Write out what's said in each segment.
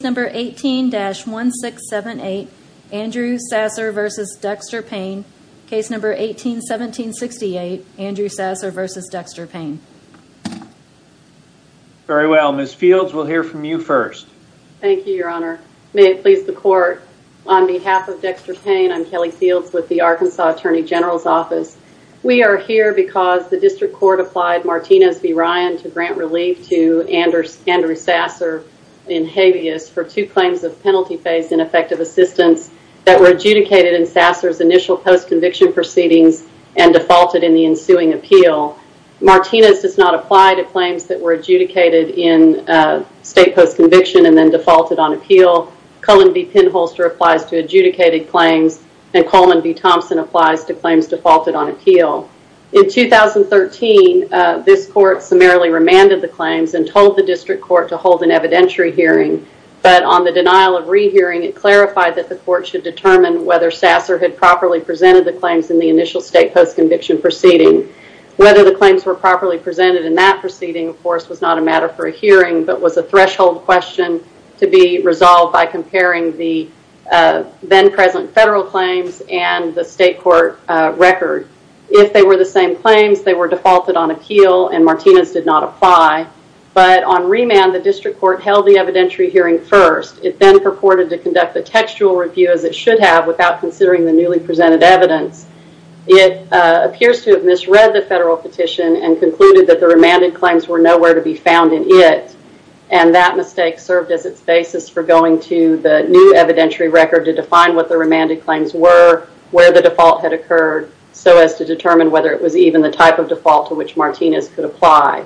Number 18-1678 Andrew Sasser v. Dexter Payne Case Number 18-1768 Andrew Sasser v. Dexter Payne Very well, Ms. Fields, we'll hear from you first. Thank you, your honor. May it please the court, on behalf of Dexter Payne, I'm Kelly Fields with the Arkansas Attorney General's Office. We are here because the district court applied Martinez v. Ryan to grant relief to Andrew Sasser in habeas for two claims of penalty phase ineffective assistance that were adjudicated in Sasser's initial post-conviction proceedings and defaulted in the ensuing appeal. Martinez does not apply to claims that were adjudicated in state post-conviction and then defaulted on appeal. Cullen v. Penholster applies to adjudicated claims and Coleman v. Thompson applies to claims defaulted on appeal. In 2013, this court summarily remanded the claims and told the district court to hold an evidentiary hearing, but on the denial of rehearing, it clarified that the court should determine whether Sasser had properly presented the claims in the initial state post-conviction proceeding. Whether the claims were properly presented in that proceeding, of course, was not a matter for a hearing, but was a threshold question to be resolved by comparing the then present federal claims and the state court record. If they were the same claims, they were defaulted on appeal and Martinez did not apply, but on remand, the district court held the evidentiary hearing first. It then purported to conduct the textual review as it should have without considering the newly presented evidence. It appears to have misread the federal petition and concluded that the remanded claims were nowhere to be found in it, and that mistake served as its basis for going to the new evidentiary record to define what the remanded claims were, where the default had occurred, so as to determine whether it was even the type of default to which Martinez could apply.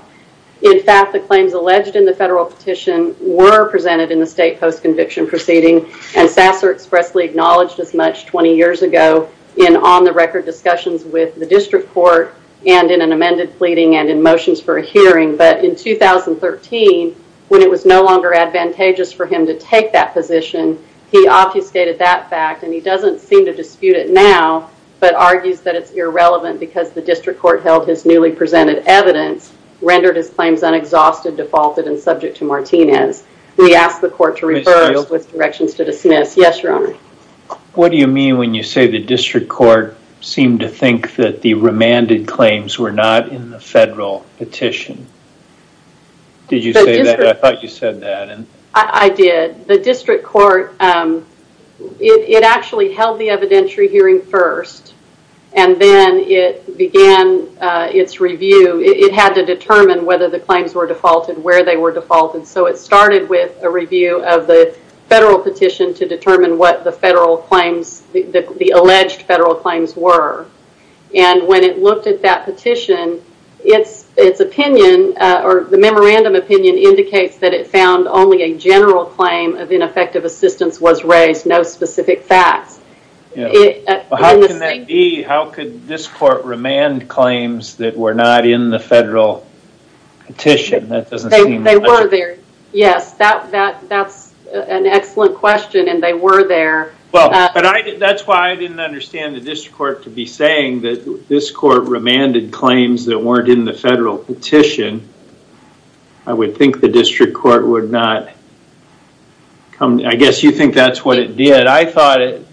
In fact, the claims alleged in the federal petition were presented in the state post-conviction proceeding and Sasser expressly acknowledged as much 20 years ago in on-the-record discussions with the district court and in an amended pleading and in motions for a hearing, but in 2013, when it was no longer advantageous for him to take that position, he obfuscated that fact and he doesn't seem to dispute it now, but argues that it's irrelevant because the district court held his newly presented evidence, rendered his claims unexhausted, defaulted, and subject to Martinez. We ask the court to reverse with directions to dismiss. Yes, your honor. What do you mean when you say the district court seemed to think that the remanded claims were not in the federal petition? Did you say that? I thought you said that. I did. The district court, it actually held the evidentiary hearing first and then it began its review. It had to determine whether the claims were defaulted, where they were defaulted, so it started with a review of the federal petition to determine what the alleged federal claims were. When it looked at that petition, the memorandum opinion indicates that it found only a general claim of ineffective assistance was raised, no specific facts. How can that be? How could this court remand claims that were not in the federal petition? They were there. Yes, that's an excellent question and they were there. That's why I didn't understand the district court to be saying that this court remanded weren't in the federal petition. I would think the district court would not come. I guess you think that's what it did. I thought it,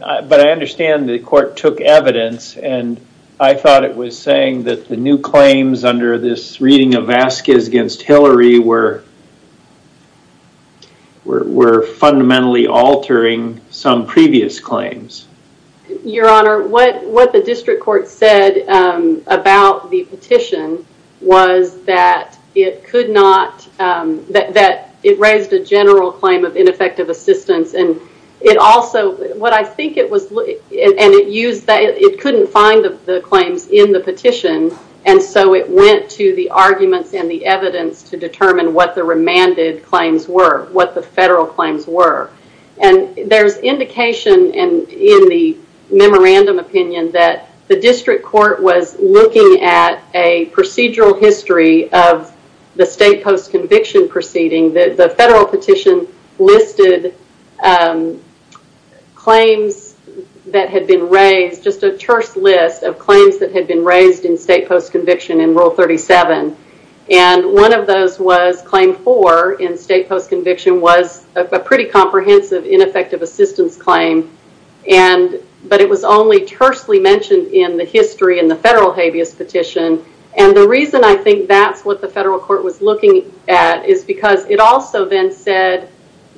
but I understand the court took evidence and I thought it was saying that the new claims under this reading of Vasquez against Hillary were fundamentally altering some previous claims. Your honor, what the district court said about the petition was that it raised a general claim of ineffective assistance. It couldn't find the claims in the petition, so it went to the arguments and the evidence to determine what the remanded claims were, what the federal claims were. There's indication in the looking at a procedural history of the state post-conviction proceeding that the federal petition listed claims that had been raised, just a terse list of claims that had been raised in state post-conviction in rule 37. One of those was claim four in state post-conviction was a pretty comprehensive ineffective assistance claim, but it was only tersely mentioned in the history in the federal habeas petition. The reason I think that's what the federal court was looking at is because it also then said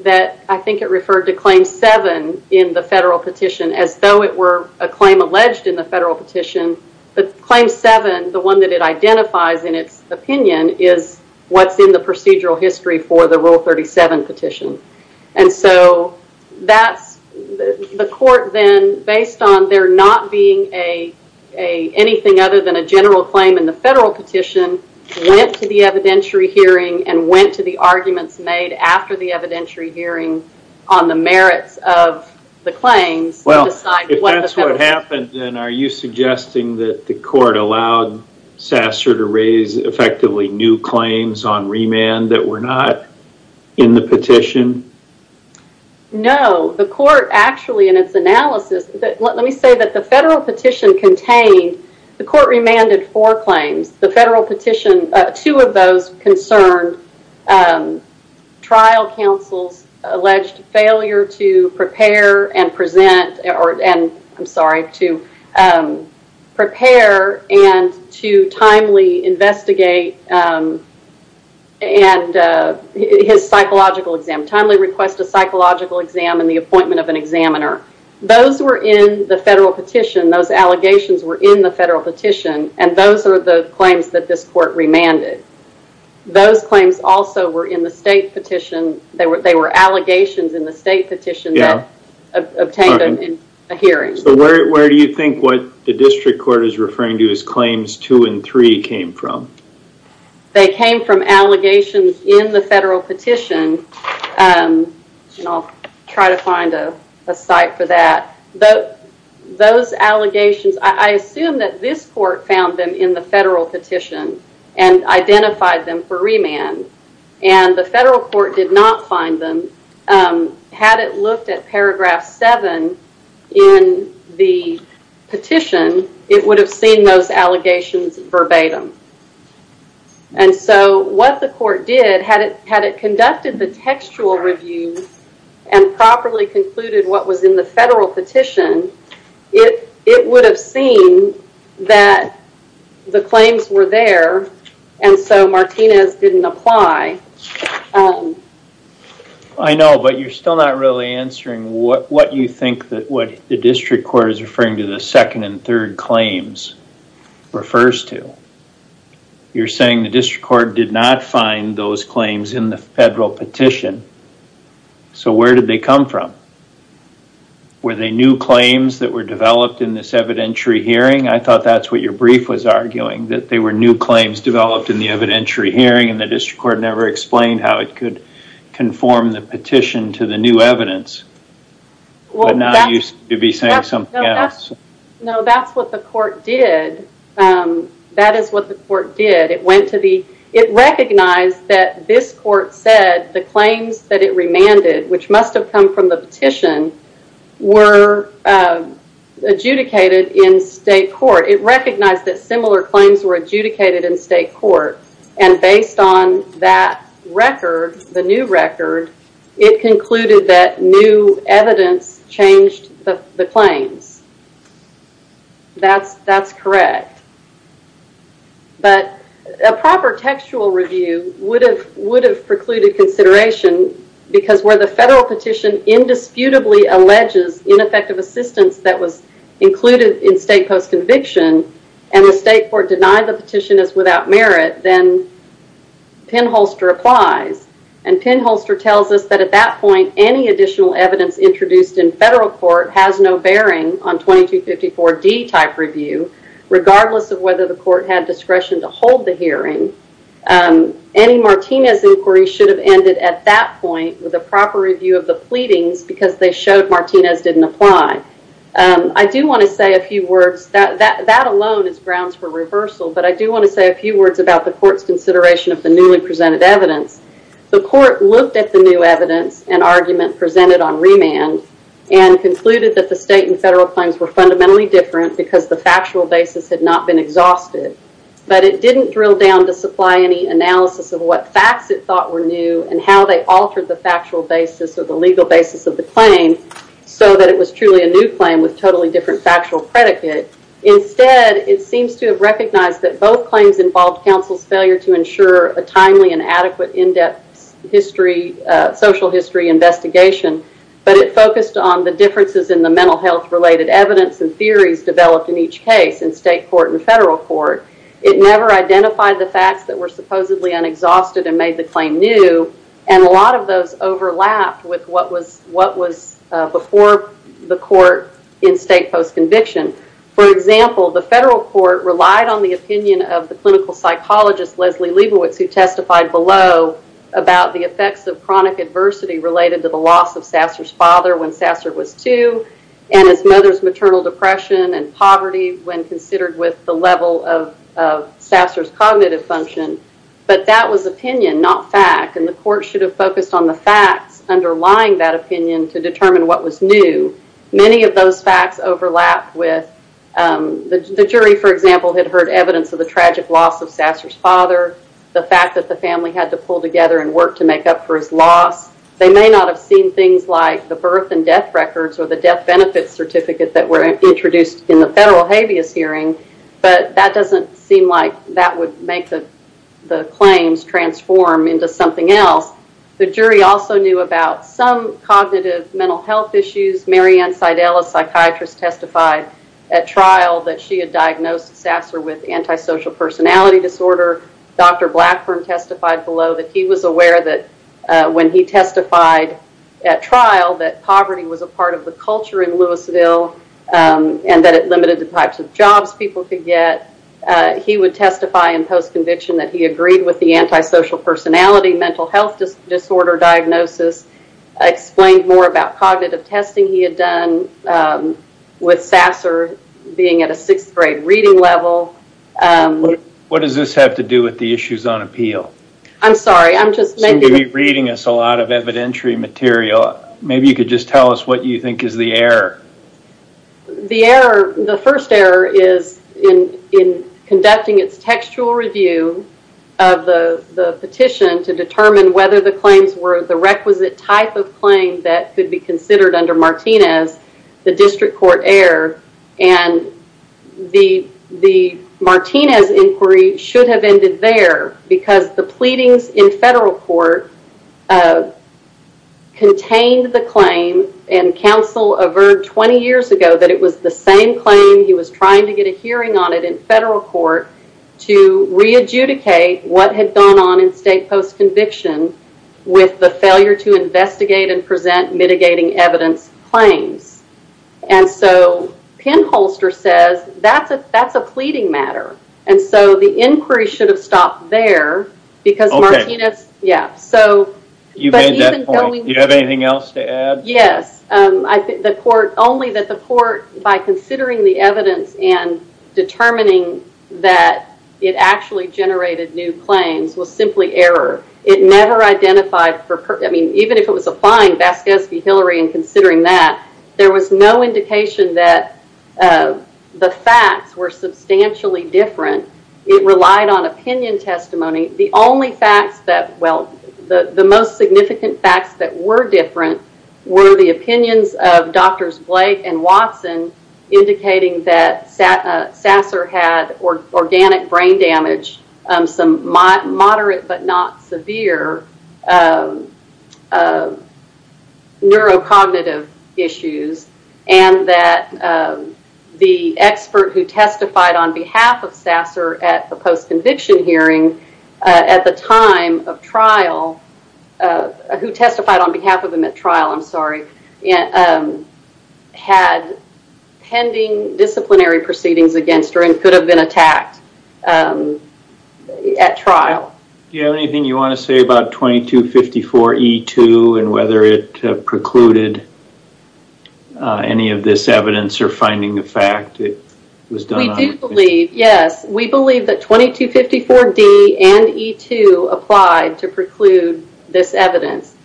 that, I think it referred to claim seven in the federal petition as though it were a claim alleged in the federal petition, but claim seven, the one that it identifies in its opinion is what's in the procedural history for the rule 37 petition. So, the court then, based on there not being anything other than a general claim in the federal petition, went to the evidentiary hearing and went to the arguments made after the evidentiary hearing on the merits of the claims. Well, if that's what happened, then are you suggesting that the court allowed Sasser to raise effectively new claims on remand that were not in the petition? No. The court actually, in its analysis, let me say that the federal petition contained, the court remanded four claims. The federal petition, two of those concerned trial counsels alleged failure to prepare and present, I'm sorry, to prepare and to timely investigate his psychological exam, timely request a psychological exam, and the appointment of an examiner. Those were in the federal petition. Those allegations were in the federal petition, and those are the claims that this court remanded. Those claims also were in the state petition. They were allegations in the state petition that obtained in a hearing. Where do you think what the district court is referring to as claims two and three came from? They came from allegations in the federal petition, and I'll try to find a site for that. Those allegations, I assume that this court found them in the federal petition and identified them for remand, and the federal court did not find them. Had it looked at paragraph seven in the petition, it would have seen those allegations verbatim. What the court did, had it conducted the textual review and properly concluded what was in the federal petition, it would have seen that the claims were there, and so Martinez didn't apply. I know, but you're still not really answering what you think that what the district court is referring to the second and third claims refers to. You're saying the district court did not find those claims in the federal petition, so where did they come from? Were they new claims that were developed in this evidentiary hearing? I thought that's what your brief was arguing, that they were new claims developed in the evidentiary hearing and the it could conform the petition to the new evidence, but now you seem to be saying something else. No, that's what the court did. It recognized that this court said the claims that it remanded, which must have come from the petition, were adjudicated in state court. It recognized that record, the new record, it concluded that new evidence changed the claims. That's correct, but a proper textual review would have precluded consideration because where the federal petition indisputably alleges ineffective assistance that was included in state post applies. Penholster tells us that at that point, any additional evidence introduced in federal court has no bearing on 2254D type review, regardless of whether the court had discretion to hold the hearing. Any Martinez inquiry should have ended at that point with a proper review of the pleadings because they showed Martinez didn't apply. I do want to say a few words. That alone is grounds for reversal, but I do want to say a few words about the court's consideration of the presented evidence. The court looked at the new evidence and argument presented on remand and concluded that the state and federal claims were fundamentally different because the factual basis had not been exhausted, but it didn't drill down to supply any analysis of what facts it thought were new and how they altered the factual basis or the legal basis of the claim so that it was truly a new claim with totally different factual predicate. Instead, it seems to have to ensure a timely and adequate in-depth social history investigation, but it focused on the differences in the mental health related evidence and theories developed in each case in state court and federal court. It never identified the facts that were supposedly unexhausted and made the claim new, and a lot of those overlapped with what was before the court in state post psychologist who testified below about the effects of chronic adversity related to the loss of Sasser's father when Sasser was two and his mother's maternal depression and poverty when considered with the level of Sasser's cognitive function, but that was opinion, not fact, and the court should have focused on the facts underlying that opinion to determine what was new. Many of those facts overlapped with the jury, for example, had heard evidence of the Sasser's father, the fact that the family had to pull together and work to make up for his loss. They may not have seen things like the birth and death records or the death benefits certificate that were introduced in the federal habeas hearing, but that doesn't seem like that would make the claims transform into something else. The jury also knew about some cognitive mental health issues. Mary Ann Seidel, a psychiatrist, testified at trial that she had diagnosed Sasser with antisocial personality disorder. Dr. Blackburn testified below that he was aware that when he testified at trial that poverty was a part of the culture in Louisville and that it limited the types of jobs people could get. He would testify in post-conviction that he agreed with the antisocial personality mental health disorder diagnosis, explained more about cognitive testing he had done with Sasser being at a sixth grade reading level. What does this have to do with the issues on appeal? I'm sorry, I'm just... You seem to be reading us a lot of evidentiary material. Maybe you could just tell us what you think is the error. The error, the first error is in conducting its textual review of the petition to determine whether the claims were the requisite type of claim that the district court erred. The Martinez inquiry should have ended there because the pleadings in federal court contained the claim and counsel averred 20 years ago that it was the same claim. He was trying to get a hearing on it in federal court to re-adjudicate what had gone on in state post-conviction with the failure to investigate and present mitigating evidence claims. Pinholster says that's a pleading matter, and so the inquiry should have stopped there because Martinez... Okay. You made that point. Do you have anything else to add? Yes. Only that the court, by considering the evidence and determining that it actually generated new claims, was simply error. It never identified... Even if it was applying Vasquez v. Hillary and considering that, there was no indication that the facts were substantially different. It relied on opinion testimony. The only facts that... Well, the most significant facts that were different were the opinions of Doctors Blake and Watson indicating that Sasser had organic brain damage, some moderate but not severe neurocognitive issues, and that the expert who testified on behalf of Sasser at the post-conviction hearing at the time of trial, who testified on behalf of him at trial, I'm sorry, had pending disciplinary proceedings against her and could have been attacked at trial. Do you have anything you want to say about 2254E2 and whether it precluded any of this evidence or finding a fact? It was done on... We do believe, yes. We believe that 2254D and E2 applied to preclude this evidence.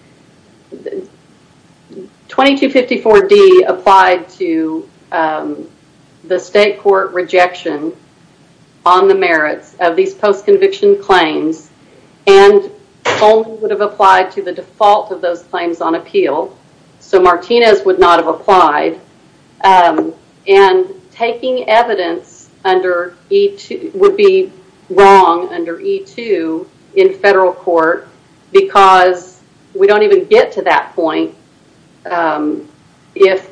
2254D applied to the state court rejection on the merits of these post-conviction claims and only would have applied to the default of those claims on appeal. Martinez would not have applied. Taking evidence would be wrong under E2 in federal court because we don't even get to that point if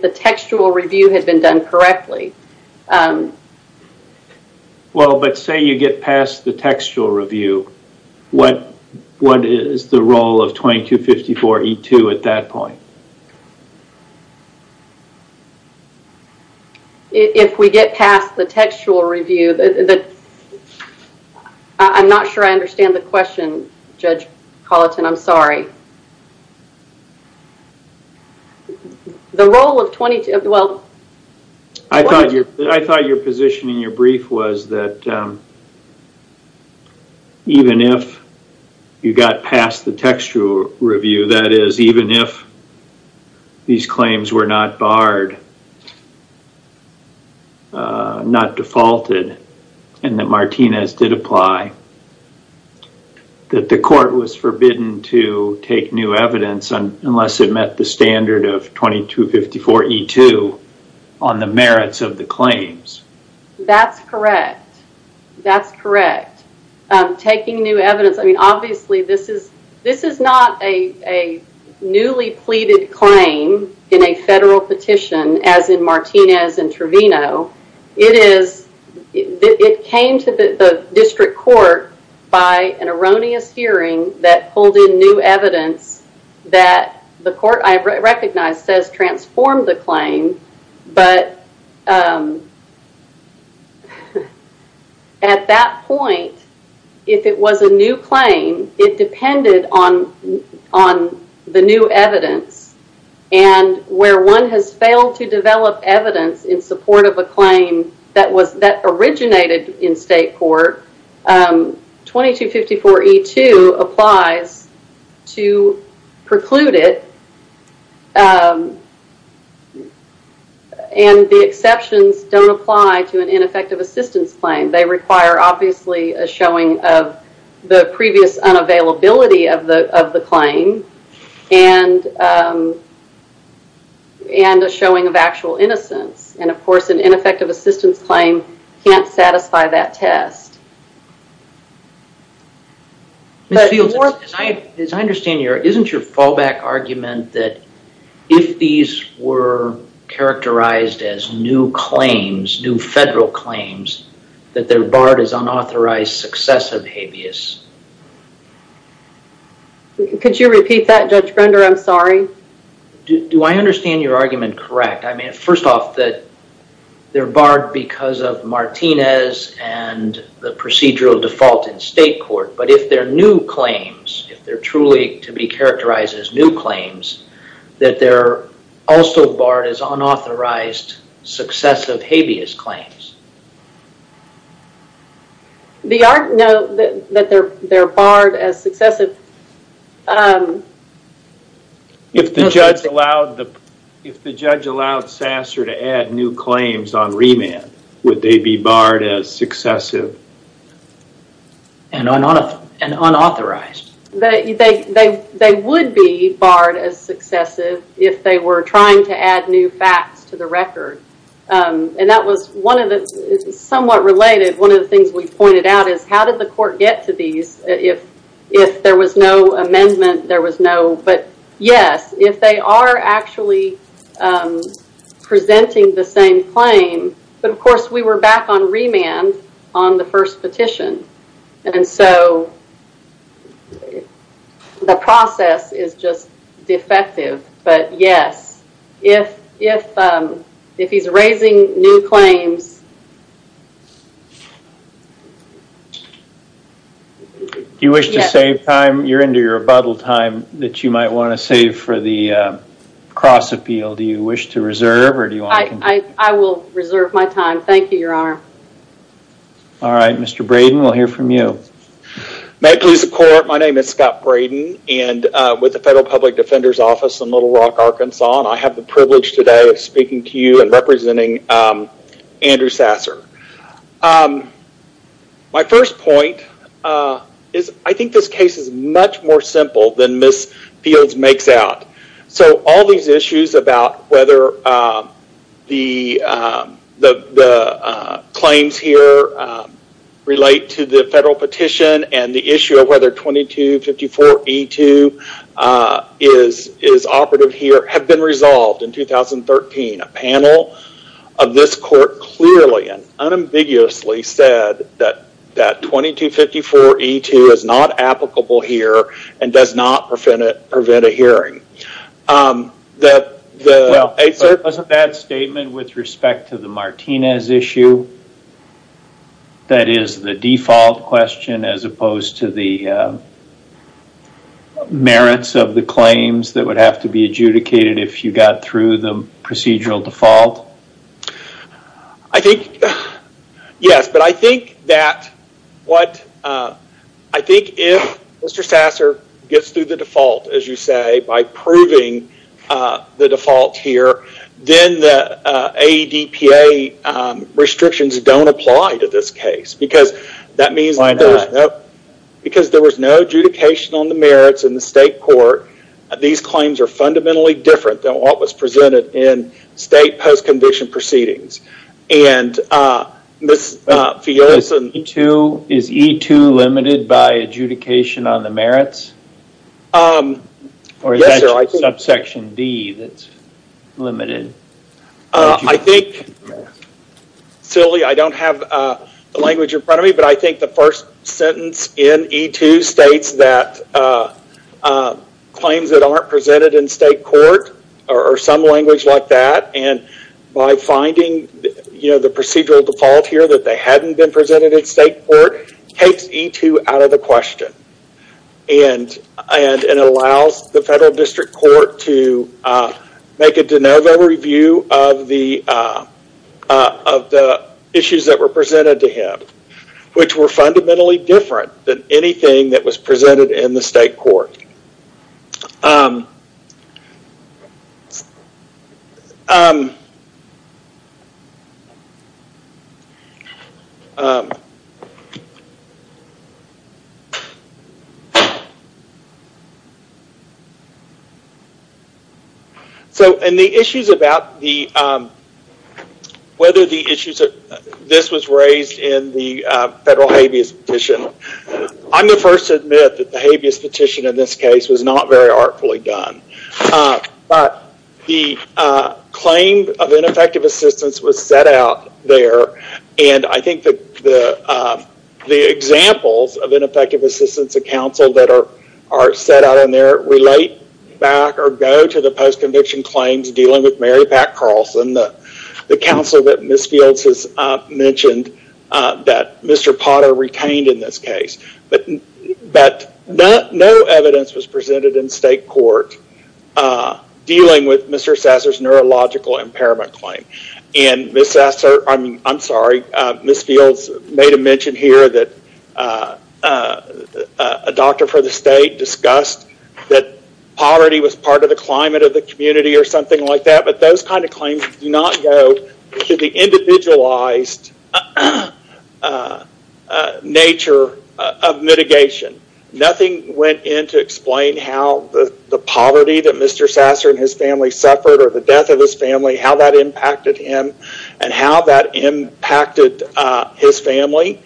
the textual review had been done correctly. Well, but say you get past the textual review, what is the role of 2254E2 at that point? If we get past the textual review... I'm not sure I understand the question, Judge Colleton. I'm sorry. I thought your position in your brief was that even if you got past the textual review, that is, even if these claims were not barred, not defaulted, and that Martinez did apply, that the court was forbidden to take new evidence unless it met the standard of 2254E2 on the merits of the claims. That's correct. That's correct. Taking new evidence, I mean, obviously this is not a newly pleaded claim in a federal petition as in Martinez and Trevino. It came to the district court by an erroneous hearing that transformed the claim, but at that point, if it was a new claim, it depended on the new evidence. Where one has failed to develop evidence in support of a claim that originated in state court, 2254E2 applies to preclude it, and the exceptions don't apply to an ineffective assistance claim. They require, obviously, a showing of the previous unavailability of the claim and a showing of actual innocence. Of course, an ineffective assistance claim can't satisfy that test. Ms. Fields, as I understand, isn't your fallback argument that if these were characterized as new claims, new federal claims, that they're barred as unauthorized successive habeas? Could you repeat that, Judge Brender? I'm sorry. Do I understand your argument correct? First off, that they're barred because of Martinez and the procedural default in state court, but if they're new claims, if they're truly to be characterized as new claims, that they're also barred as unauthorized successive habeas claims? No, that they're barred as successive. If the judge allowed Sasser to add new claims on remand, would they be barred as successive and unauthorized? They would be barred as successive if they were trying to add new facts to the record. That was somewhat related. One of the things we pointed out is how did the court get to these if there was no amendment? Yes, if they are actually presenting the same claim, but of course, we were back on remand on the first petition. The process is just defective, but yes, if he's raising new claims... Do you wish to save time? You're into your rebuttal time that you might want to save for the cross appeal. Do you wish to reserve or do you want to continue? I will reserve my time. Thank you, Your Honor. All right, Mr. Braden, we'll hear from you. May it please the court, my name is Scott Braden and with the Federal Public Defender's Office in Little Rock, Arkansas and I have the privilege today of speaking to you and representing Andrew Sasser. My first point is I think this case is much more simple than Ms. Fields makes out. All these issues about whether the claims here relate to the federal petition and the issue of whether 2254E2 is operative here have been resolved in 2013. A panel of this court clearly and unambiguously said that 2254E2 is not applicable here and does not prevent a hearing. It was a bad statement with respect to the Martinez issue. That is the default question as opposed to the merits of the claims that would have to be adjudicated if you got through the procedural default? Yes, but I think if Mr. Sasser gets through the default, as you say, by proving the default here, then the ADPA restrictions don't apply to this case because that means... Why not? Because there was no adjudication on the merits in the state court. These claims are fundamentally different than what was presented in state post-condition proceedings. Is E2 limited by adjudication on the merits? Yes, sir. Or is that subsection D that's limited? I think... Silly, I don't have the language in front of me, but I think the first sentence in E2 states that claims that aren't presented in state court or some language like that and by finding the procedural default here that they hadn't been presented in state court takes E2 out of the question and allows the federal district court to make a de novo review of the issues that were presented to him, which were fundamentally different than anything that was presented in the state court. So, and the issues about whether the issues... This was raised in the federal habeas petition. I'm the first to admit that the habeas petition in this case was not very artfully done, but the claim of ineffective assistance was set out there and I think the examples of ineffective assistance of counsel that are set out in there relate back or go to the post-conviction claims dealing with Mary Pat Carlson, the counsel that Ms. Fields has mentioned that Mr. Potter retained in this case, but no evidence was presented in state court dealing with Mr. Sasser's neurological impairment claim. And Ms. Sasser, I'm sorry, Ms. Fields made a mention here that a doctor for the state discussed that poverty was part of the climate of the community or something like that, but those kinds of claims do not go to the individualized nature of mitigation. Nothing went in to explain how the poverty that Mr. Sasser and his family suffered or the death of his family, how that impacted him and how that impacted his family.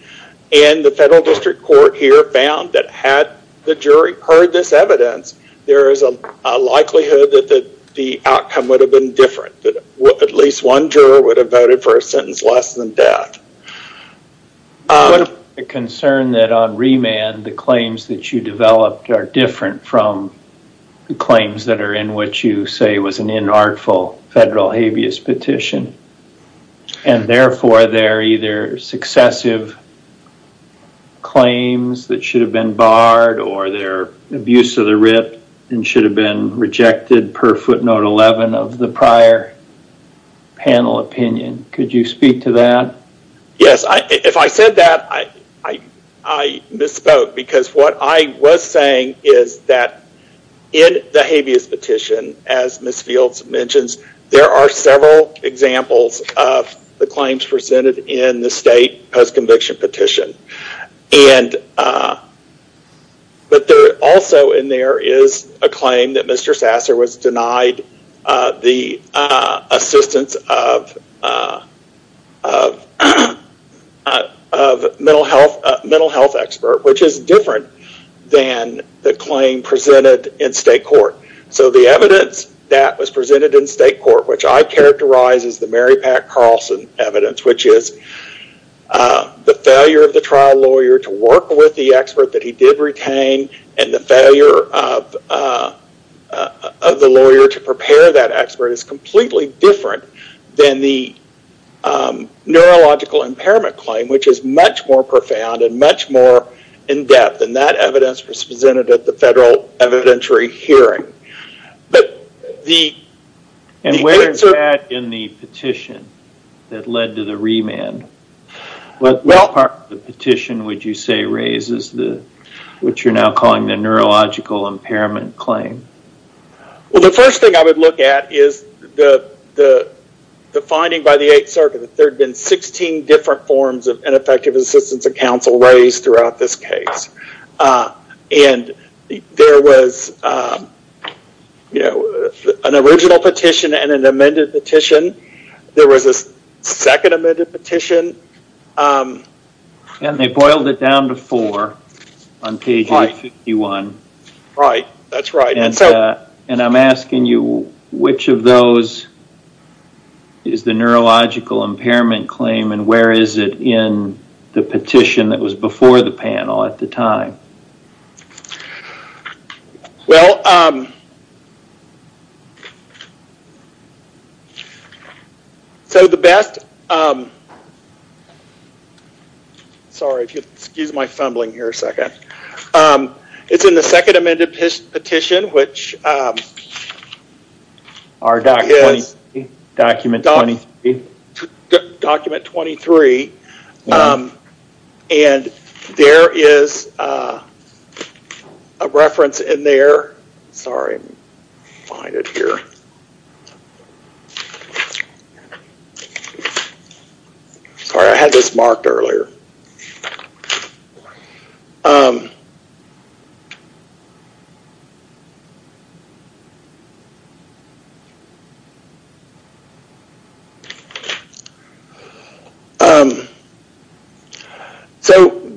And the federal district court here found that had the jury heard this evidence, there is a likelihood that the outcome would have been different, that at least one juror would have voted for a sentence less than death. What about the concern that on remand, the claims that you developed are different from the claims that are in what you say was an inartful federal habeas petition and therefore they're either successive claims that should have been barred or they're abuse of the writ and should have been rejected per footnote 11 of the prior panel opinion. Could you speak to that? Yes. If I said that, I misspoke because what I was saying is that in the habeas petition, as Ms. Fields mentions, there are several examples of the claims presented in the state post-conviction petition. But also in there is a claim that Mr. Sasser was denied the assistance of a mental health expert, which is different than the claim presented in state court. So the evidence that was presented in state court, which I characterize as the Mary Pat Carlson evidence, which is the failure of the trial lawyer to work with the expert that he did retain and the failure of the lawyer to prepare that expert is completely different than the neurological impairment claim, which is much more profound and much more in depth. And that evidence was presented at the federal evidentiary hearing. And where is that in the petition that led to the remand? What part of the petition would you say raises what you're now calling the neurological impairment claim? Well, the first thing I would look at is the finding by the eighth circuit that there had been 16 different forms of ineffective assistance of counsel raised throughout this case. And there was an original petition and an amended petition. There was a second amended petition. And they boiled it down to four on page 851. Right. That's right. And I'm asking you, which of those is the neurological impairment claim and where is it in the petition that was before the panel at the time? Well, so the best... Sorry, excuse my fumbling here a second. It's in the second amended petition, which is document 23. And there is a reference in there. Sorry, find it here. Sorry, I had this marked earlier. So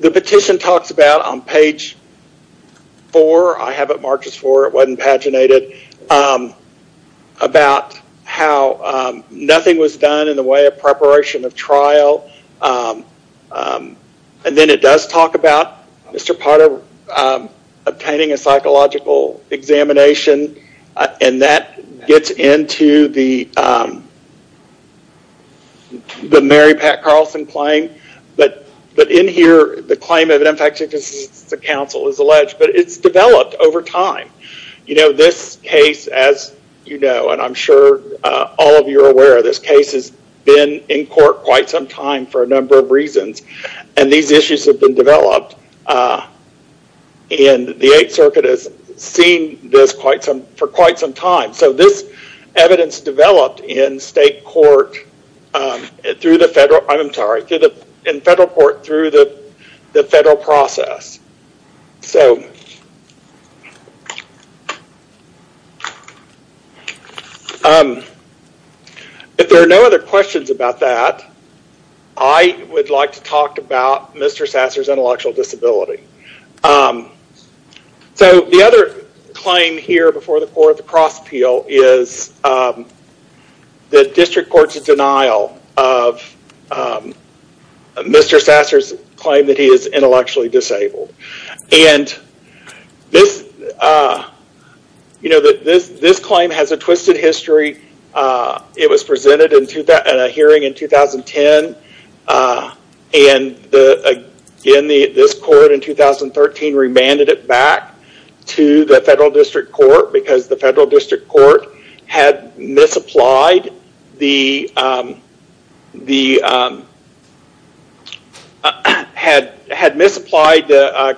the petition talks about on page four, I have it marked as four, it wasn't paginated, about how nothing was done in the way of preparation of trial. And then it does talk about Mr. Potter obtaining a psychological examination. And that gets into the Mary Pat Carlson claim. But in here, the claim of ineffective assistance of counsel is alleged, but it's developed over time. This case, as you know, and I'm sure all of you are aware of this case, has been in court quite some time for a number of reasons. And these issues have been developed. And the Eighth Circuit has seen this for quite some time. So this evidence developed in federal court through the federal process. If there are no other questions about that, I would like to talk about Mr. Sasser's intellectual disability. So the other claim here before the court, the cross appeal, is the district court's denial of Mr. Sasser's claim that he is intellectually disabled. And this claim has a twisted history. It was presented in a hearing in 2010, and this court in 2013 remanded it back to the federal district court, because the federal district court had misapplied the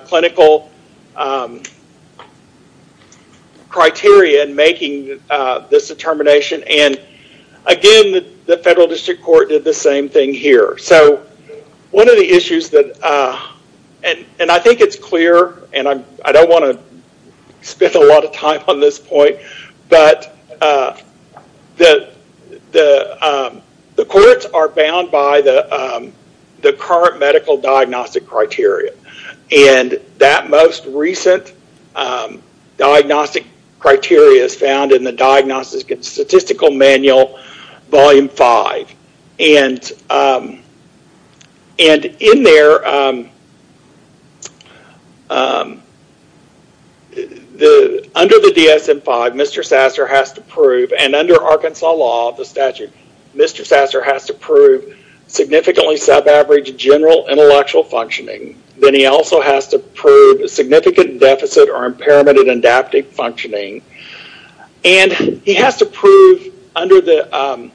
clinical criteria in making this determination. And again, the federal district court did the same thing here. So one of the issues that, and I think it's clear, and I don't want to spend a lot of time on this point, but the courts are bound by the current medical diagnostic criteria. And that most recent diagnostic criteria is found in the Diagnostic and Statistical Manual, Volume 5. And in there, under the DSM-5, Mr. Sasser has to prove, and under Arkansas law, the statute, Mr. Sasser has to prove significantly sub-average general intellectual functioning. Then he also has to prove a significant deficit or impairment in adaptive functioning. And he has to prove, under the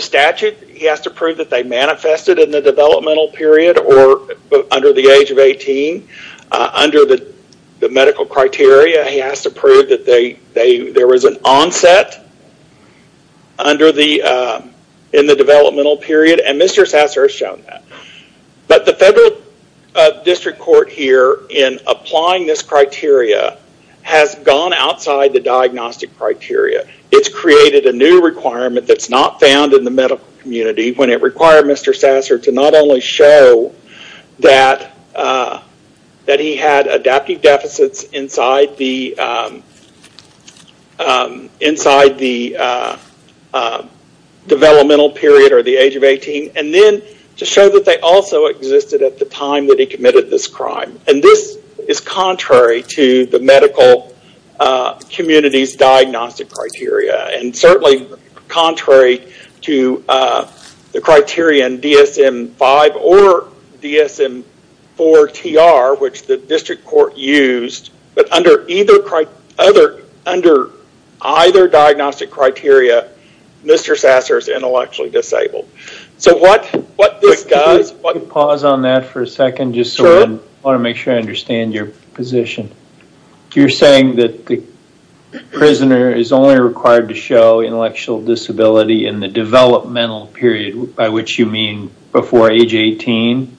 statute, he has to prove that they manifested in the developmental period or under the age of 18. Under the medical criteria, he has to prove that there was an onset in the developmental period, and Mr. Sasser has shown that. But the federal district court here, in applying this criteria, has gone outside the diagnostic criteria. It's created a new requirement that's not found in the medical community when it required Mr. Sasser to not only show that he had adaptive deficits inside the developmental period or the age of 18, and then to show that they also existed at the time that he committed this crime. And this is contrary to the medical community's diagnostic criteria, and certainly contrary to the criteria in DSM-5 or DSM-4TR, which the district court used. But under either diagnostic criteria, Mr. Sasser is intellectually disabled. Pause on that for a second, just so I want to make sure I understand your position. You're saying that the prisoner is only required to show intellectual disability in the developmental period, by which you mean before age 18?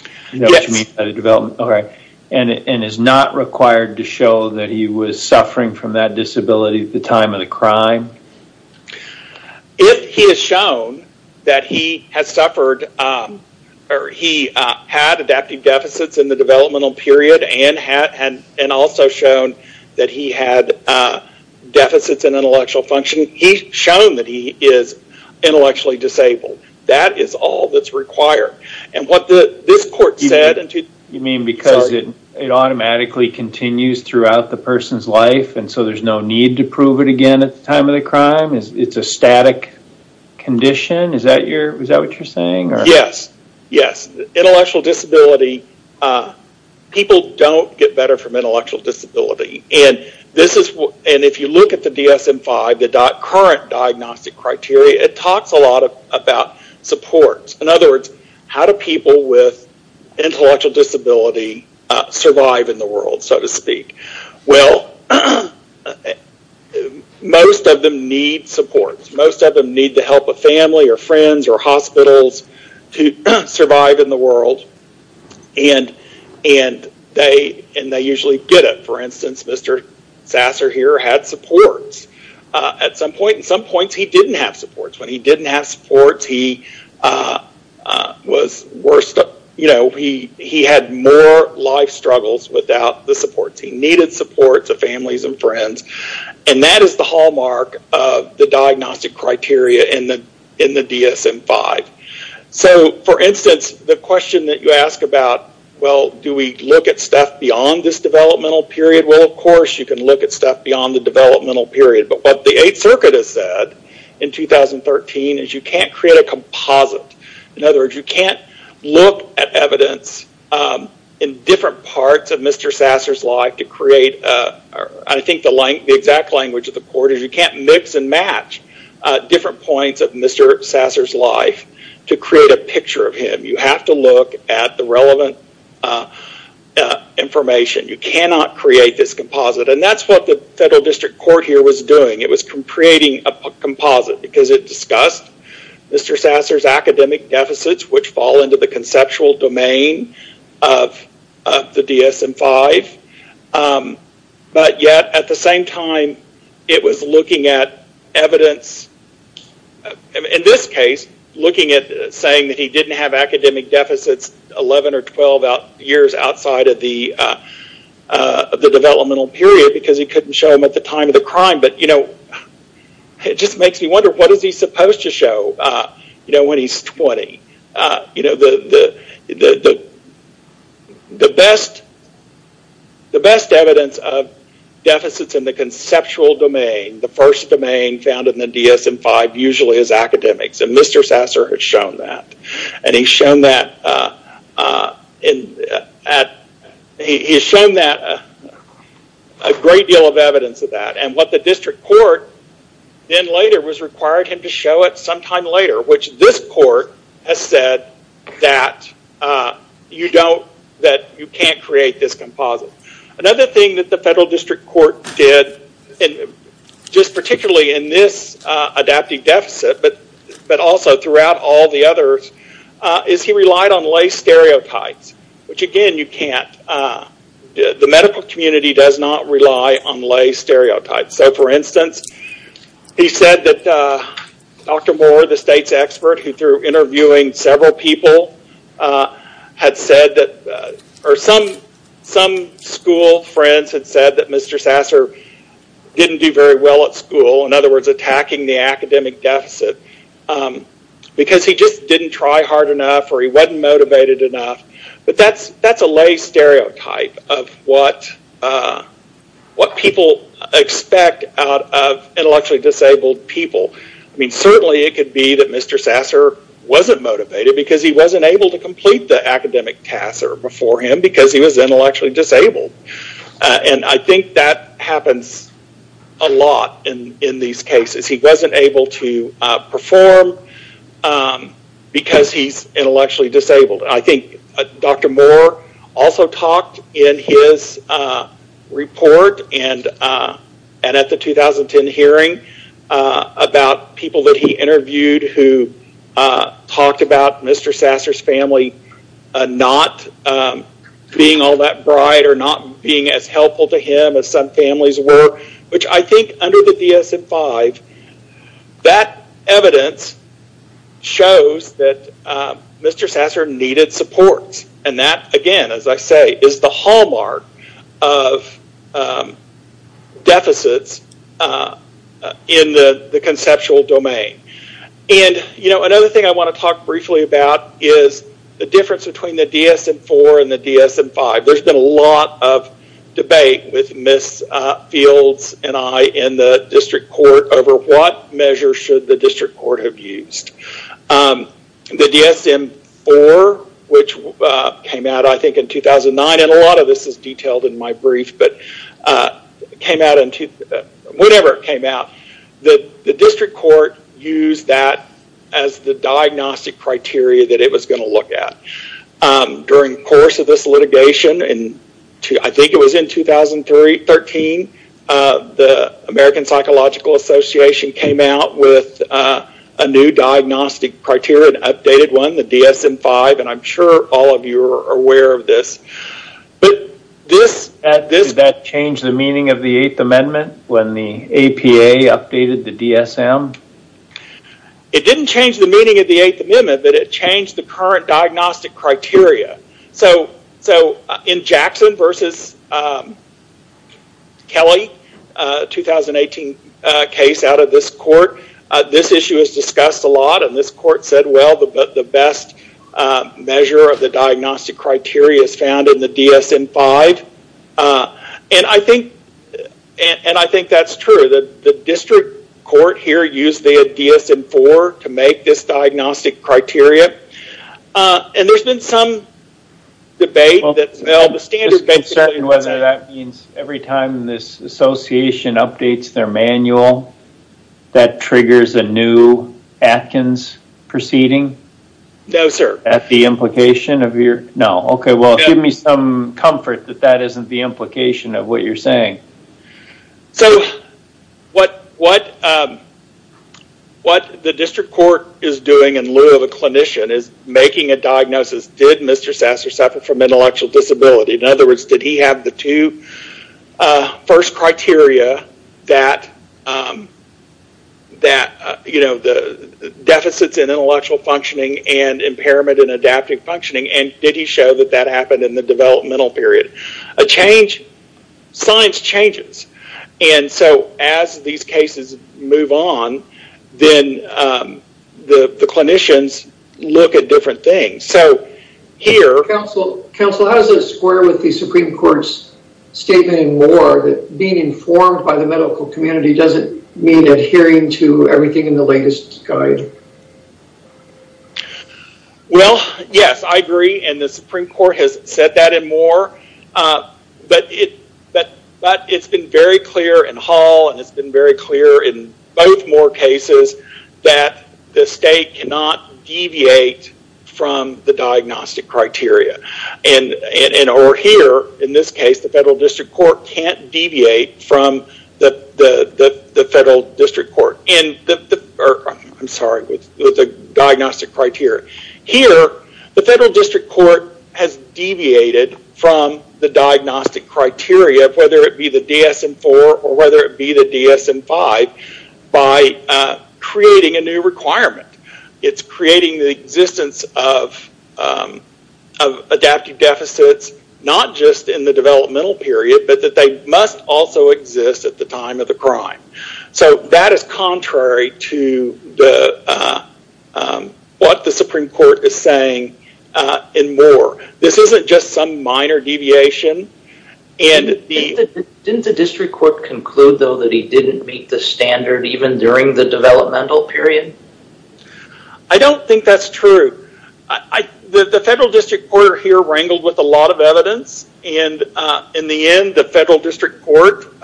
Yes. You know what you mean by the development, okay. And is not required to show that he was suffering from that disability at the time of the crime? If he has shown that he had adaptive deficits in the developmental period, and also shown that he had deficits in intellectual function, he's shown that he is intellectually disabled. That is all that's required. And what this court said... You mean because it automatically continues throughout the person's life, and so there's no need to prove it again at the time of the crime? It's a static condition? Is that what you're saying? Yes. Yes. Intellectual disability, people don't get better from intellectual disability. And if you look at the DSM-5, the current diagnostic criteria, it talks a lot about support. In other words, how do people with intellectual disability survive in the world, so to speak? Well, most of them need support. Most of them need the help of family, or friends, or hospitals to survive in the world, and they usually get it. For instance, Mr. Sasser here had supports at some point. At some points, he didn't have supports. When he didn't have supports, he had more life struggles without the supports. He needed support, the families and friends, and that is the hallmark of the diagnostic criteria in the DSM-5. So, for instance, the question that you ask about, well, do we look at stuff beyond this developmental period? Well, of course, you can look at stuff beyond the developmental period, but what the Eighth Circuit has said in 2013 is you can't create a composite. In other words, you can't look at evidence in different parts of Mr. Sasser's life to create, I think, the exact language of the court is you can't mix and match different points of Mr. Sasser's life to create a picture of him. You have to look at the relevant information. You cannot create this composite, and that's what the federal district court here was doing. It was creating a composite because it discussed Mr. Sasser's academic deficits, which fall into the conceptual domain of the DSM-5, but yet, at the same time, it was looking at evidence, in this case, looking at saying that he didn't have academic deficits 11 or 12 years outside of the developmental period because he couldn't show them at the time of the crime, but it just makes me wonder what is he supposed to show when he's 20? The best evidence of deficits in the conceptual domain, the first domain found in the DSM-5 usually is academics, and Mr. Sasser has shown that. He's shown a great deal of evidence of that, and what the district court then later was required him to show it sometime later, which this court has said that you can't create this composite. Another thing that the federal district court did, just particularly in this adaptive deficit, but also throughout all the others, is he relied on lay stereotypes, which again, you can't. The medical community does not rely on lay stereotypes. For instance, he said that Dr. Moore, the state's expert, who through interviewing several people, had said that...or some school friends had said that Mr. Sasser didn't do very well at school, attacking the academic deficit, because he just didn't try hard enough or he wasn't motivated enough. That's a lay stereotype of what people expect out of intellectually disabled people. Certainly, it could be that Mr. Sasser wasn't motivated because he wasn't able to complete the academic task before him because he was intellectually disabled. I think that happens a lot in these cases. He wasn't able to perform because he's intellectually disabled. I think Dr. Moore also talked in his report and at the 2010 hearing about people that he interviewed who talked about Mr. Sasser's family not being all that bright or not being as helpful to him as families were, which I think under the DSM-5, that evidence shows that Mr. Sasser needed support. That, again, as I say, is the hallmark of deficits in the conceptual domain. Another thing I want to talk briefly about is the difference between the DSM-4 and the DSM-5. There's been a lot of debate with Ms. Fields and I in the district court over what measure should the district court have used. The DSM-4, which came out, I think, in 2009, and a lot of this is detailed in my brief, but it came out in...whenever it came out, the district court used that as the diagnostic criteria that it was going to look at. During the course of this litigation, I think it was in 2013, the American Psychological Association came out with a new diagnostic criteria, an updated one, the DSM-5, and I'm sure all of you are aware of this. Did that change the meaning of the Eighth Amendment when the APA updated the DSM? It didn't change the meaning of the Eighth Amendment, but it changed the current diagnostic criteria. In Jackson versus Kelly, a 2018 case out of this court, this issue is discussed a lot, and this court said, well, the best measure of the diagnostic criteria is found in the DSM-5, and I think that's true. The district court here used the DSM-4 to make this diagnostic criteria, and there's been some debate that, well, the standard basically... I'm just concerned whether that means every time this association updates their manual, that triggers a new Atkins proceeding? No, sir. At the implication of your... No. Okay. Well, give me some comfort that that isn't the implication of what you're saying. What the district court is doing in lieu of a clinician is making a diagnosis. Did Mr. Sasser suffer from intellectual disability? In other words, did he have the two first criteria that the deficits in intellectual functioning and impairment in adaptive functioning, and did he show that that happened in the developmental period? Science changes, and so as these cases move on, then the clinicians look at different things. Here... Counsel, how does this square with the Supreme Court's statement in Moore that being informed by the medical community doesn't mean adhering to everything in the latest guide? Well, yes, I agree, and the Supreme Court has said that in Moore, but it's been very clear in Hall, and it's been very clear in both Moore cases that the state cannot deviate from the diagnostic criteria. Over here, in this case, the Federal District Court can't deviate from the Federal District Criteria. Here, the Federal District Court has deviated from the diagnostic criteria, whether it be the DSM-IV or whether it be the DSM-V by creating a new requirement. It's creating the existence of adaptive deficits, not just in the developmental period, but that they must also what the Supreme Court is saying in Moore. This isn't just some minor deviation. Didn't the District Court conclude, though, that he didn't meet the standard even during the developmental period? I don't think that's true. The Federal District Court here wrangled with a lot of evidence, and in the end, the Federal District Court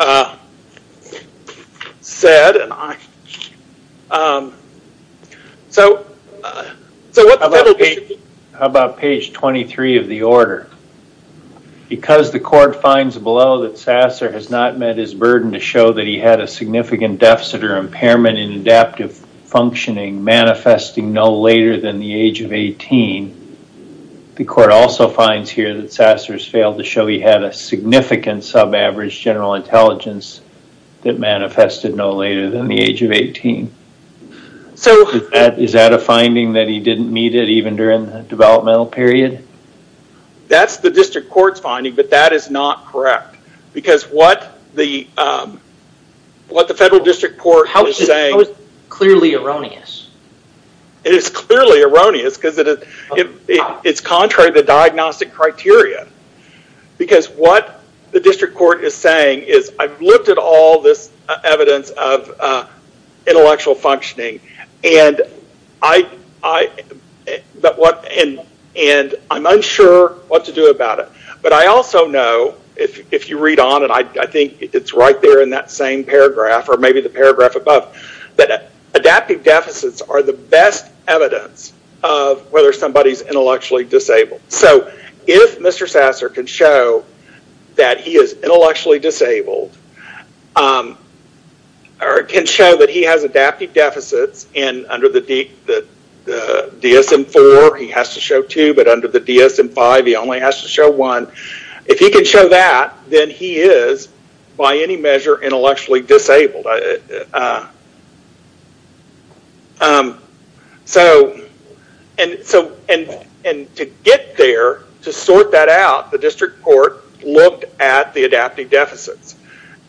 said... How about page 23 of the order? Because the court finds below that Sasser has not met his burden to show that he had a significant deficit or impairment in adaptive functioning manifesting no later than the age of 18, the court also finds here that Sasser has failed to show he had a significant sub-average general intelligence that manifested no later than the age of 18. Is that a finding that he didn't meet it even during the developmental period? That's the District Court's finding, but that is not correct because what the Federal District Court was saying... How is it clearly erroneous? It is clearly erroneous because it's contrary to diagnostic criteria because what the District Court is saying is, I've looked at all this evidence of intellectual functioning, and I'm unsure what to do about it. But I also know, if you read on, and I think it's right there in that same paragraph or maybe the paragraph above, that adaptive deficits are the best evidence of whether somebody's If Mr. Sasser can show that he is intellectually disabled or can show that he has adaptive deficits, and under the DSM-IV, he has to show two, but under the DSM-V, he only has to show one. If he can show that, then he is, by any measure, intellectually disabled. To get there, to sort that out, the District Court looked at the adaptive deficits,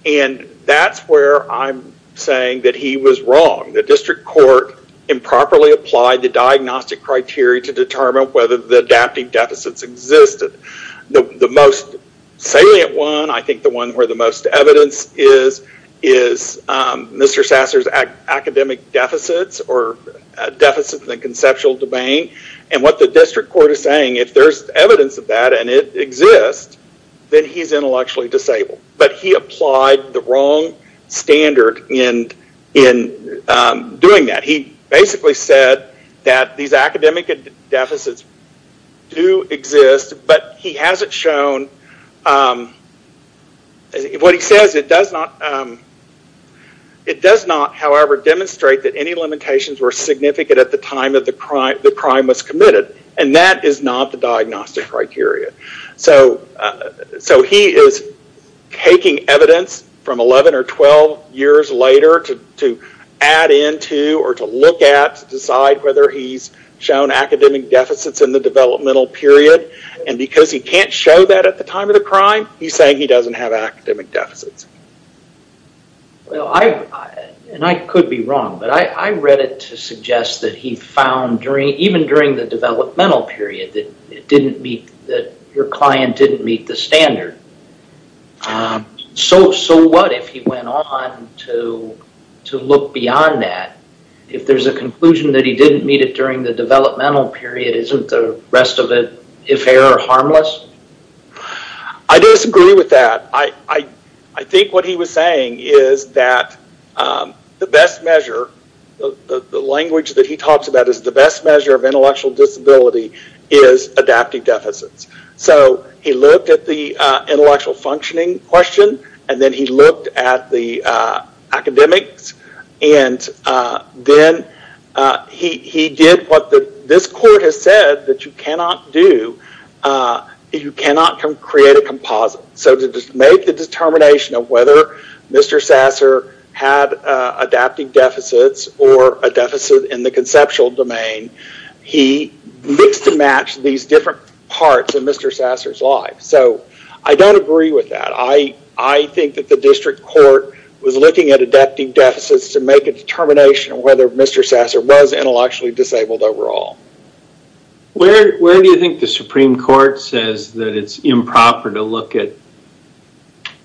and that's where I'm saying that he was wrong. The District Court improperly applied the diagnostic criteria to determine whether the adaptive deficits existed. The most salient one, I think the one where the most evidence is, is Mr. Sasser's academic deficits or deficits in the conceptual domain. What the District Court is saying, if there's evidence of that and it exists, then he's intellectually disabled. But he applied the wrong standard in doing that. He basically said that these academic deficits do exist, but he hasn't shown what he says. It does not, however, demonstrate that any limitations were significant at the time that the crime was committed, and that is not the diagnostic criteria. He is taking evidence from 11 or 12 years later to add into or to look at, to decide whether he's shown academic deficits in the developmental period, and because he can't show that at the time of the crime, he's saying he doesn't have academic deficits. And I could be wrong, but I read it to suggest that he found, even during the developmental period, that your client didn't meet the standard. So what if he went on to look beyond that? If there's a conclusion that he didn't meet it during the developmental period, isn't the I disagree with that. I think what he was saying is that the best measure, the language that he talks about is the best measure of intellectual disability is adaptive deficits. So he looked at the intellectual functioning question, and then he looked at the academics, and then he did what this court has said that you cannot do, you cannot create a composite. So to make the determination of whether Mr. Sasser had adaptive deficits or a deficit in the conceptual domain, he mixed and matched these different parts in Mr. Sasser's life. So I don't agree with that. I think that the district court was looking at adaptive deficits to make a determination of whether Mr. Sasser was actually disabled overall. Where do you think the Supreme Court says that it's improper to look at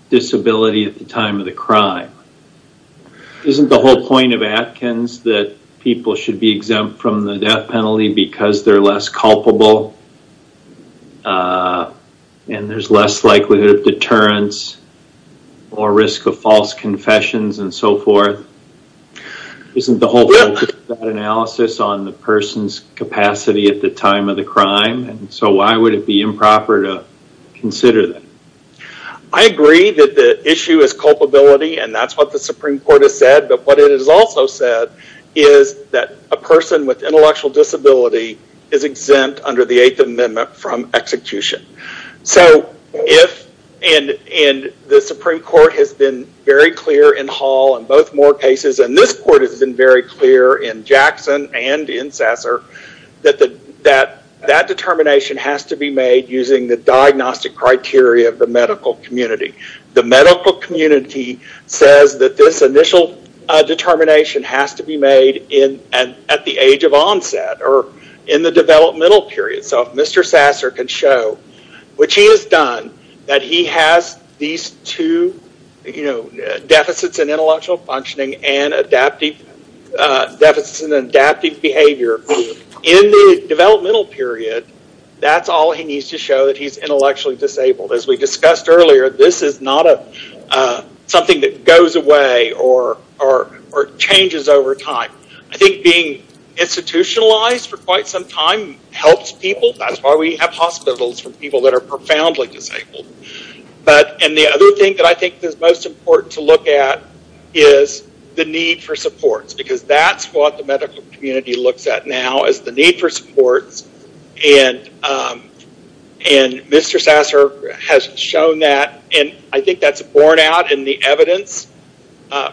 disability at the time of the crime? Isn't the whole point of Atkins that people should be exempt from the death penalty because they're less culpable, and there's less likelihood of on the person's capacity at the time of the crime? So why would it be improper to consider that? I agree that the issue is culpability, and that's what the Supreme Court has said, but what it has also said is that a person with intellectual disability is exempt under the 8th Amendment from execution. So if, and the Supreme Court has been very clear in Hall and both Moore cases, and this court has been very clear in Jackson and in Sasser, that that determination has to be made using the diagnostic criteria of the medical community. The medical community says that this initial determination has to be made at the age of onset or in the developmental period. So if Mr. Sasser can show what he has done, that he has these two deficits in intellectual functioning and deficits in adaptive behavior in the developmental period, that's all he needs to show that he's intellectually disabled. As we discussed earlier, this is not something that goes away or changes over time. I think being institutionalized for quite some time helps people. That's why we have hospitals for people that are profoundly disabled. The other thing that I think is most important to look at is the need for supports, because that's what the medical community looks at now is the need for supports. Mr. Sasser has shown that, and I think that's borne out in the evidence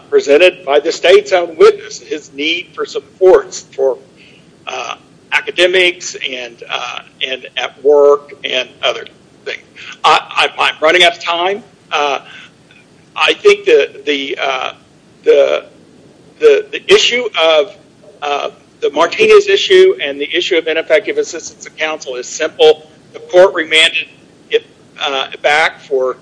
presented by the state's own witness, his need for supports for academics and at work and other things. I'm running out of time. I think the issue of the Martinez issue and the issue of ineffective assistance of counsel is simple. The court remanded it back to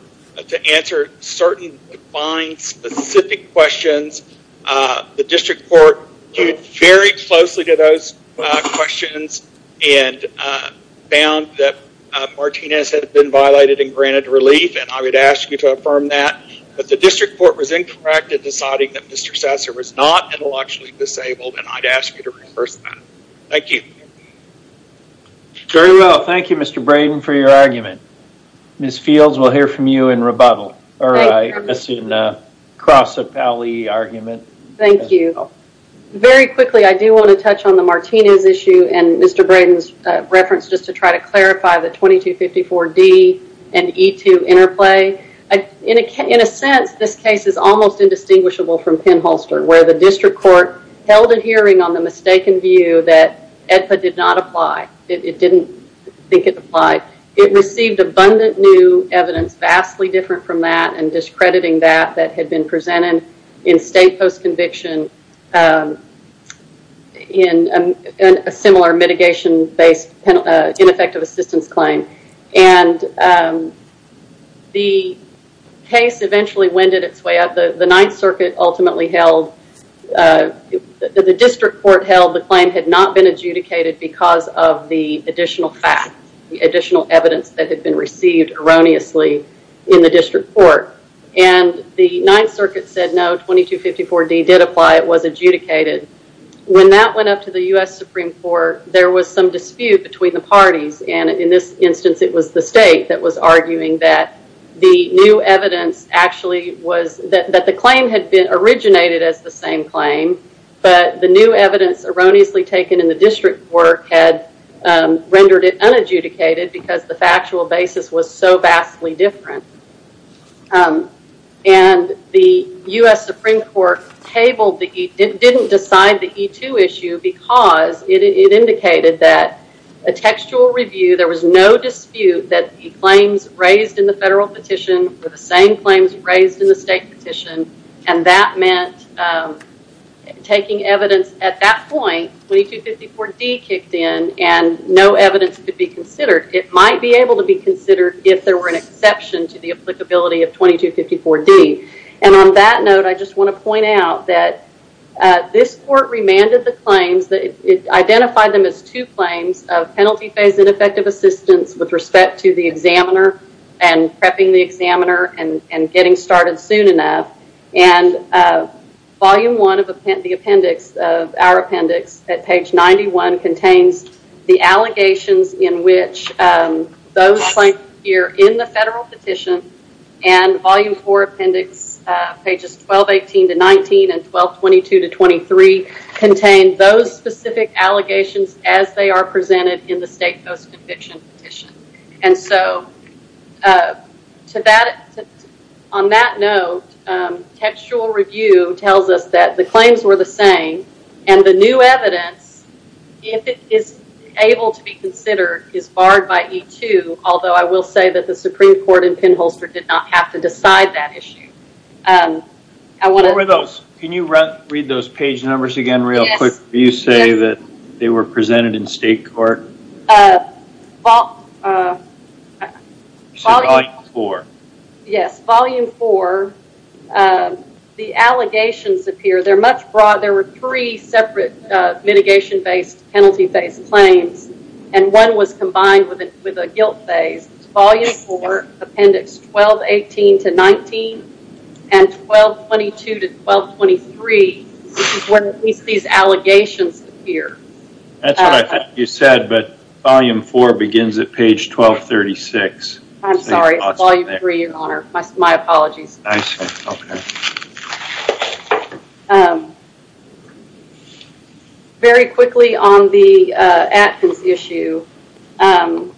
answer certain defined specific questions. The district court viewed very closely to those questions and found that Martinez had been violated and granted relief, and I would ask you to affirm that, but the district court was incorrect in deciding that Mr. Sasser was not intellectually disabled, and I'd ask you to reverse that. Thank you. Very well. Thank you, Mr. Braden, for your argument. Ms. Fields, we'll hear from you in rebuttal, or I assume, cross a pally argument. Thank you. Very quickly, I do want to touch on the Martinez issue and Mr. Braden's reference just to try to clarify the 2254D and E2 interplay. In a sense, this case is almost indistinguishable from Penn-Holster, where the district court held a hearing on the mistaken view that EDPA did not apply. It didn't think it applied. It received abundant new evidence vastly different from that and discrediting that that had been presented in state post-conviction in a similar mitigation-based ineffective assistance claim. The case eventually wended its way out. The Ninth Circuit ultimately held, the district court held the claim had not been adjudicated because of the additional fact, the additional evidence that had been received erroneously in the district court. The Ninth Circuit said, no, 2254D did apply. It was adjudicated. When that went up to the US Supreme Court, there was some dispute between the parties. In this instance, it was the state that was arguing that the new evidence actually was that the claim had been originated as the same claim, but the new evidence erroneously taken in the district court had rendered it unadjudicated because the factual basis was so vastly different. The US Supreme Court tabled the E, didn't decide the E2 issue because it indicated that a textual review, there was no dispute that the claims raised in the federal petition were the same claims raised in the state petition, and that meant taking evidence at that point, 2254D kicked in and no evidence could be considered. It might be able to be considered if there were an exception to the applicability of 2254D. On that note, I just want to point out that this court remanded the claims, that it identified them as two claims of penalty phase ineffective assistance with respect to the and volume one of the appendix, our appendix at page 91 contains the allegations in which those claims appear in the federal petition and volume four appendix pages 1218 to 19 and 1222 to 23 contain those specific allegations as they are presented in the state post-conviction petition. And so, on that note, textual review tells us that the claims were the same and the new evidence, if it is able to be considered, is barred by E2, although I will say that the Supreme Court in Penholster did not have to decide that issue. Can you read those pages? Volume four. Yes, volume four, the allegations appear. There were three separate mitigation-based, penalty-based claims and one was combined with a guilt phase. Volume four, appendix 1218 to 19 and 1222 to 1223, this is where at least these allegations appear. That's what I thought you said, but volume four begins at page 1236. I'm sorry, volume three, your honor. My apologies. Very quickly on the Atkins issue, Mr.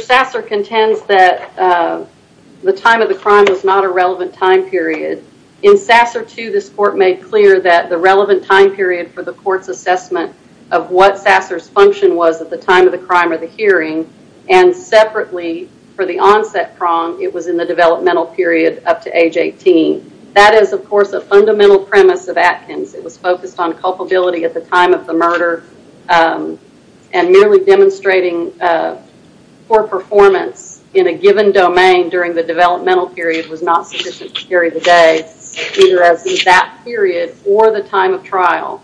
Sasser contends that the time of the crime was not a relevant time period. In Sasser 2, this court made clear that the relevant time period for the assessment of what Sasser's function was at the time of the crime or the hearing and separately for the onset prong, it was in the developmental period up to age 18. That is, of course, a fundamental premise of Atkins. It was focused on culpability at the time of the murder and merely demonstrating poor performance in a given domain during the developmental period was not sufficient to carry the day, either as in that period or the time of trial.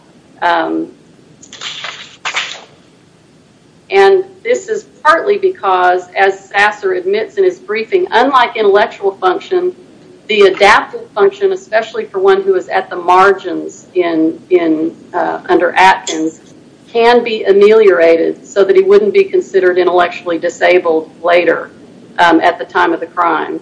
This is partly because, as Sasser admits in his briefing, unlike intellectual function, the adaptive function, especially for one who is at the margins under Atkins, can be ameliorated so that he wouldn't be considered intellectually disabled later at the time of the crime.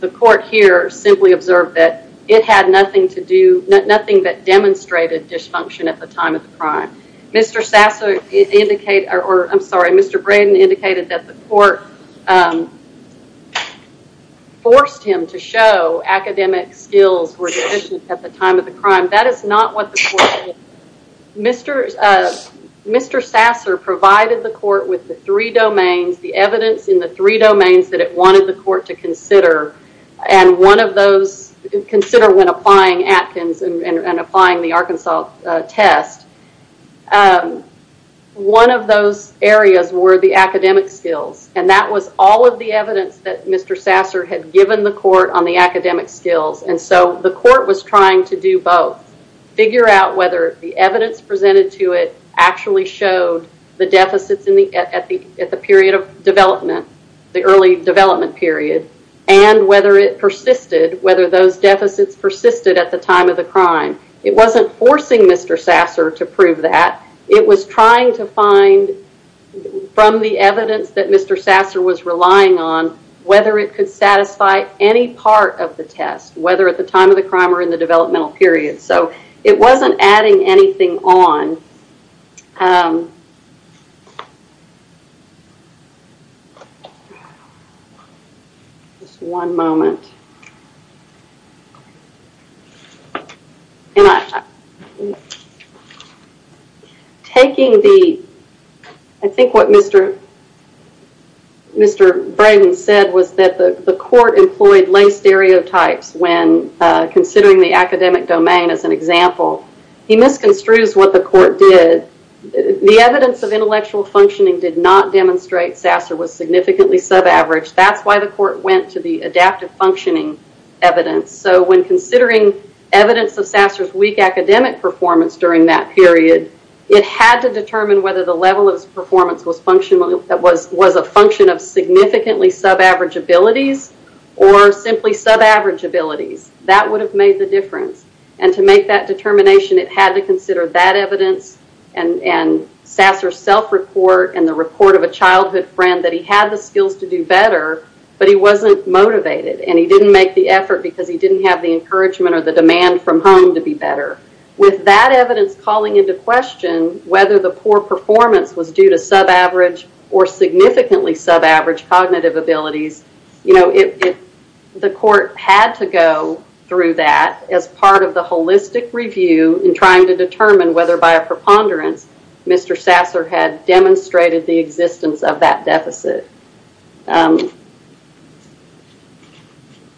The court here simply observed that it had nothing that demonstrated dysfunction at the time of the crime. Mr. Braden indicated that the court forced him to show academic skills were deficient at the time of the crime. That is not what the court did. Mr. Sasser provided the court with the three domains, the evidence in the three domains that it wanted the court to consider. Consider when applying Atkins and applying the Arkansas test. One of those areas were the academic skills. That was all of the evidence that Mr. Sasser had given the court on the academic skills. The court was trying to do both, figure out whether the evidence presented to it actually showed the deficits at the period of development, the early development period, and whether it persisted, whether those deficits persisted at the time of the crime. It wasn't forcing Mr. Sasser to prove that. It was trying to find, from the evidence that Mr. Sasser was relying on, whether it could satisfy any part of the test, whether at the time of the crime or in the developmental period. It wasn't adding anything on the test. Just one moment. I think what Mr. Braden said was that the court employed lay stereotypes when considering the academic domain as an example. He misconstrues what the court did. The evidence of intellectual sub-average. That's why the court went to the adaptive functioning evidence. When considering evidence of Sasser's weak academic performance during that period, it had to determine whether the level of his performance was a function of significantly sub-average abilities or simply sub-average abilities. That would have made the difference. To make that determination, it had to consider that evidence and Sasser's self-report and the report of a childhood friend that he had the skills to do better, but he wasn't motivated. He didn't make the effort because he didn't have the encouragement or the demand from home to be better. With that evidence calling into question whether the poor performance was due to sub-average or significantly sub-average cognitive abilities, the court had to go through that as part of the holistic review in trying to determine whether by a preponderance Mr. Sasser had demonstrated the existence of that deficit.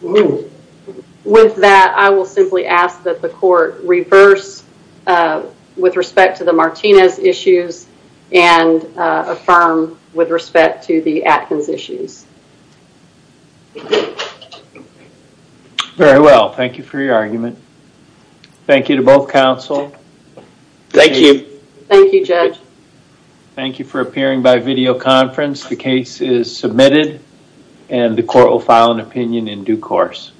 With that, I will simply ask that the court reverse with respect to the Martinez issues and affirm with respect to the Atkins issues. Very well. Thank you for your argument. Thank you to both counsel. Thank you for appearing by video conference. The case is submitted and the court will file an opinion in due course.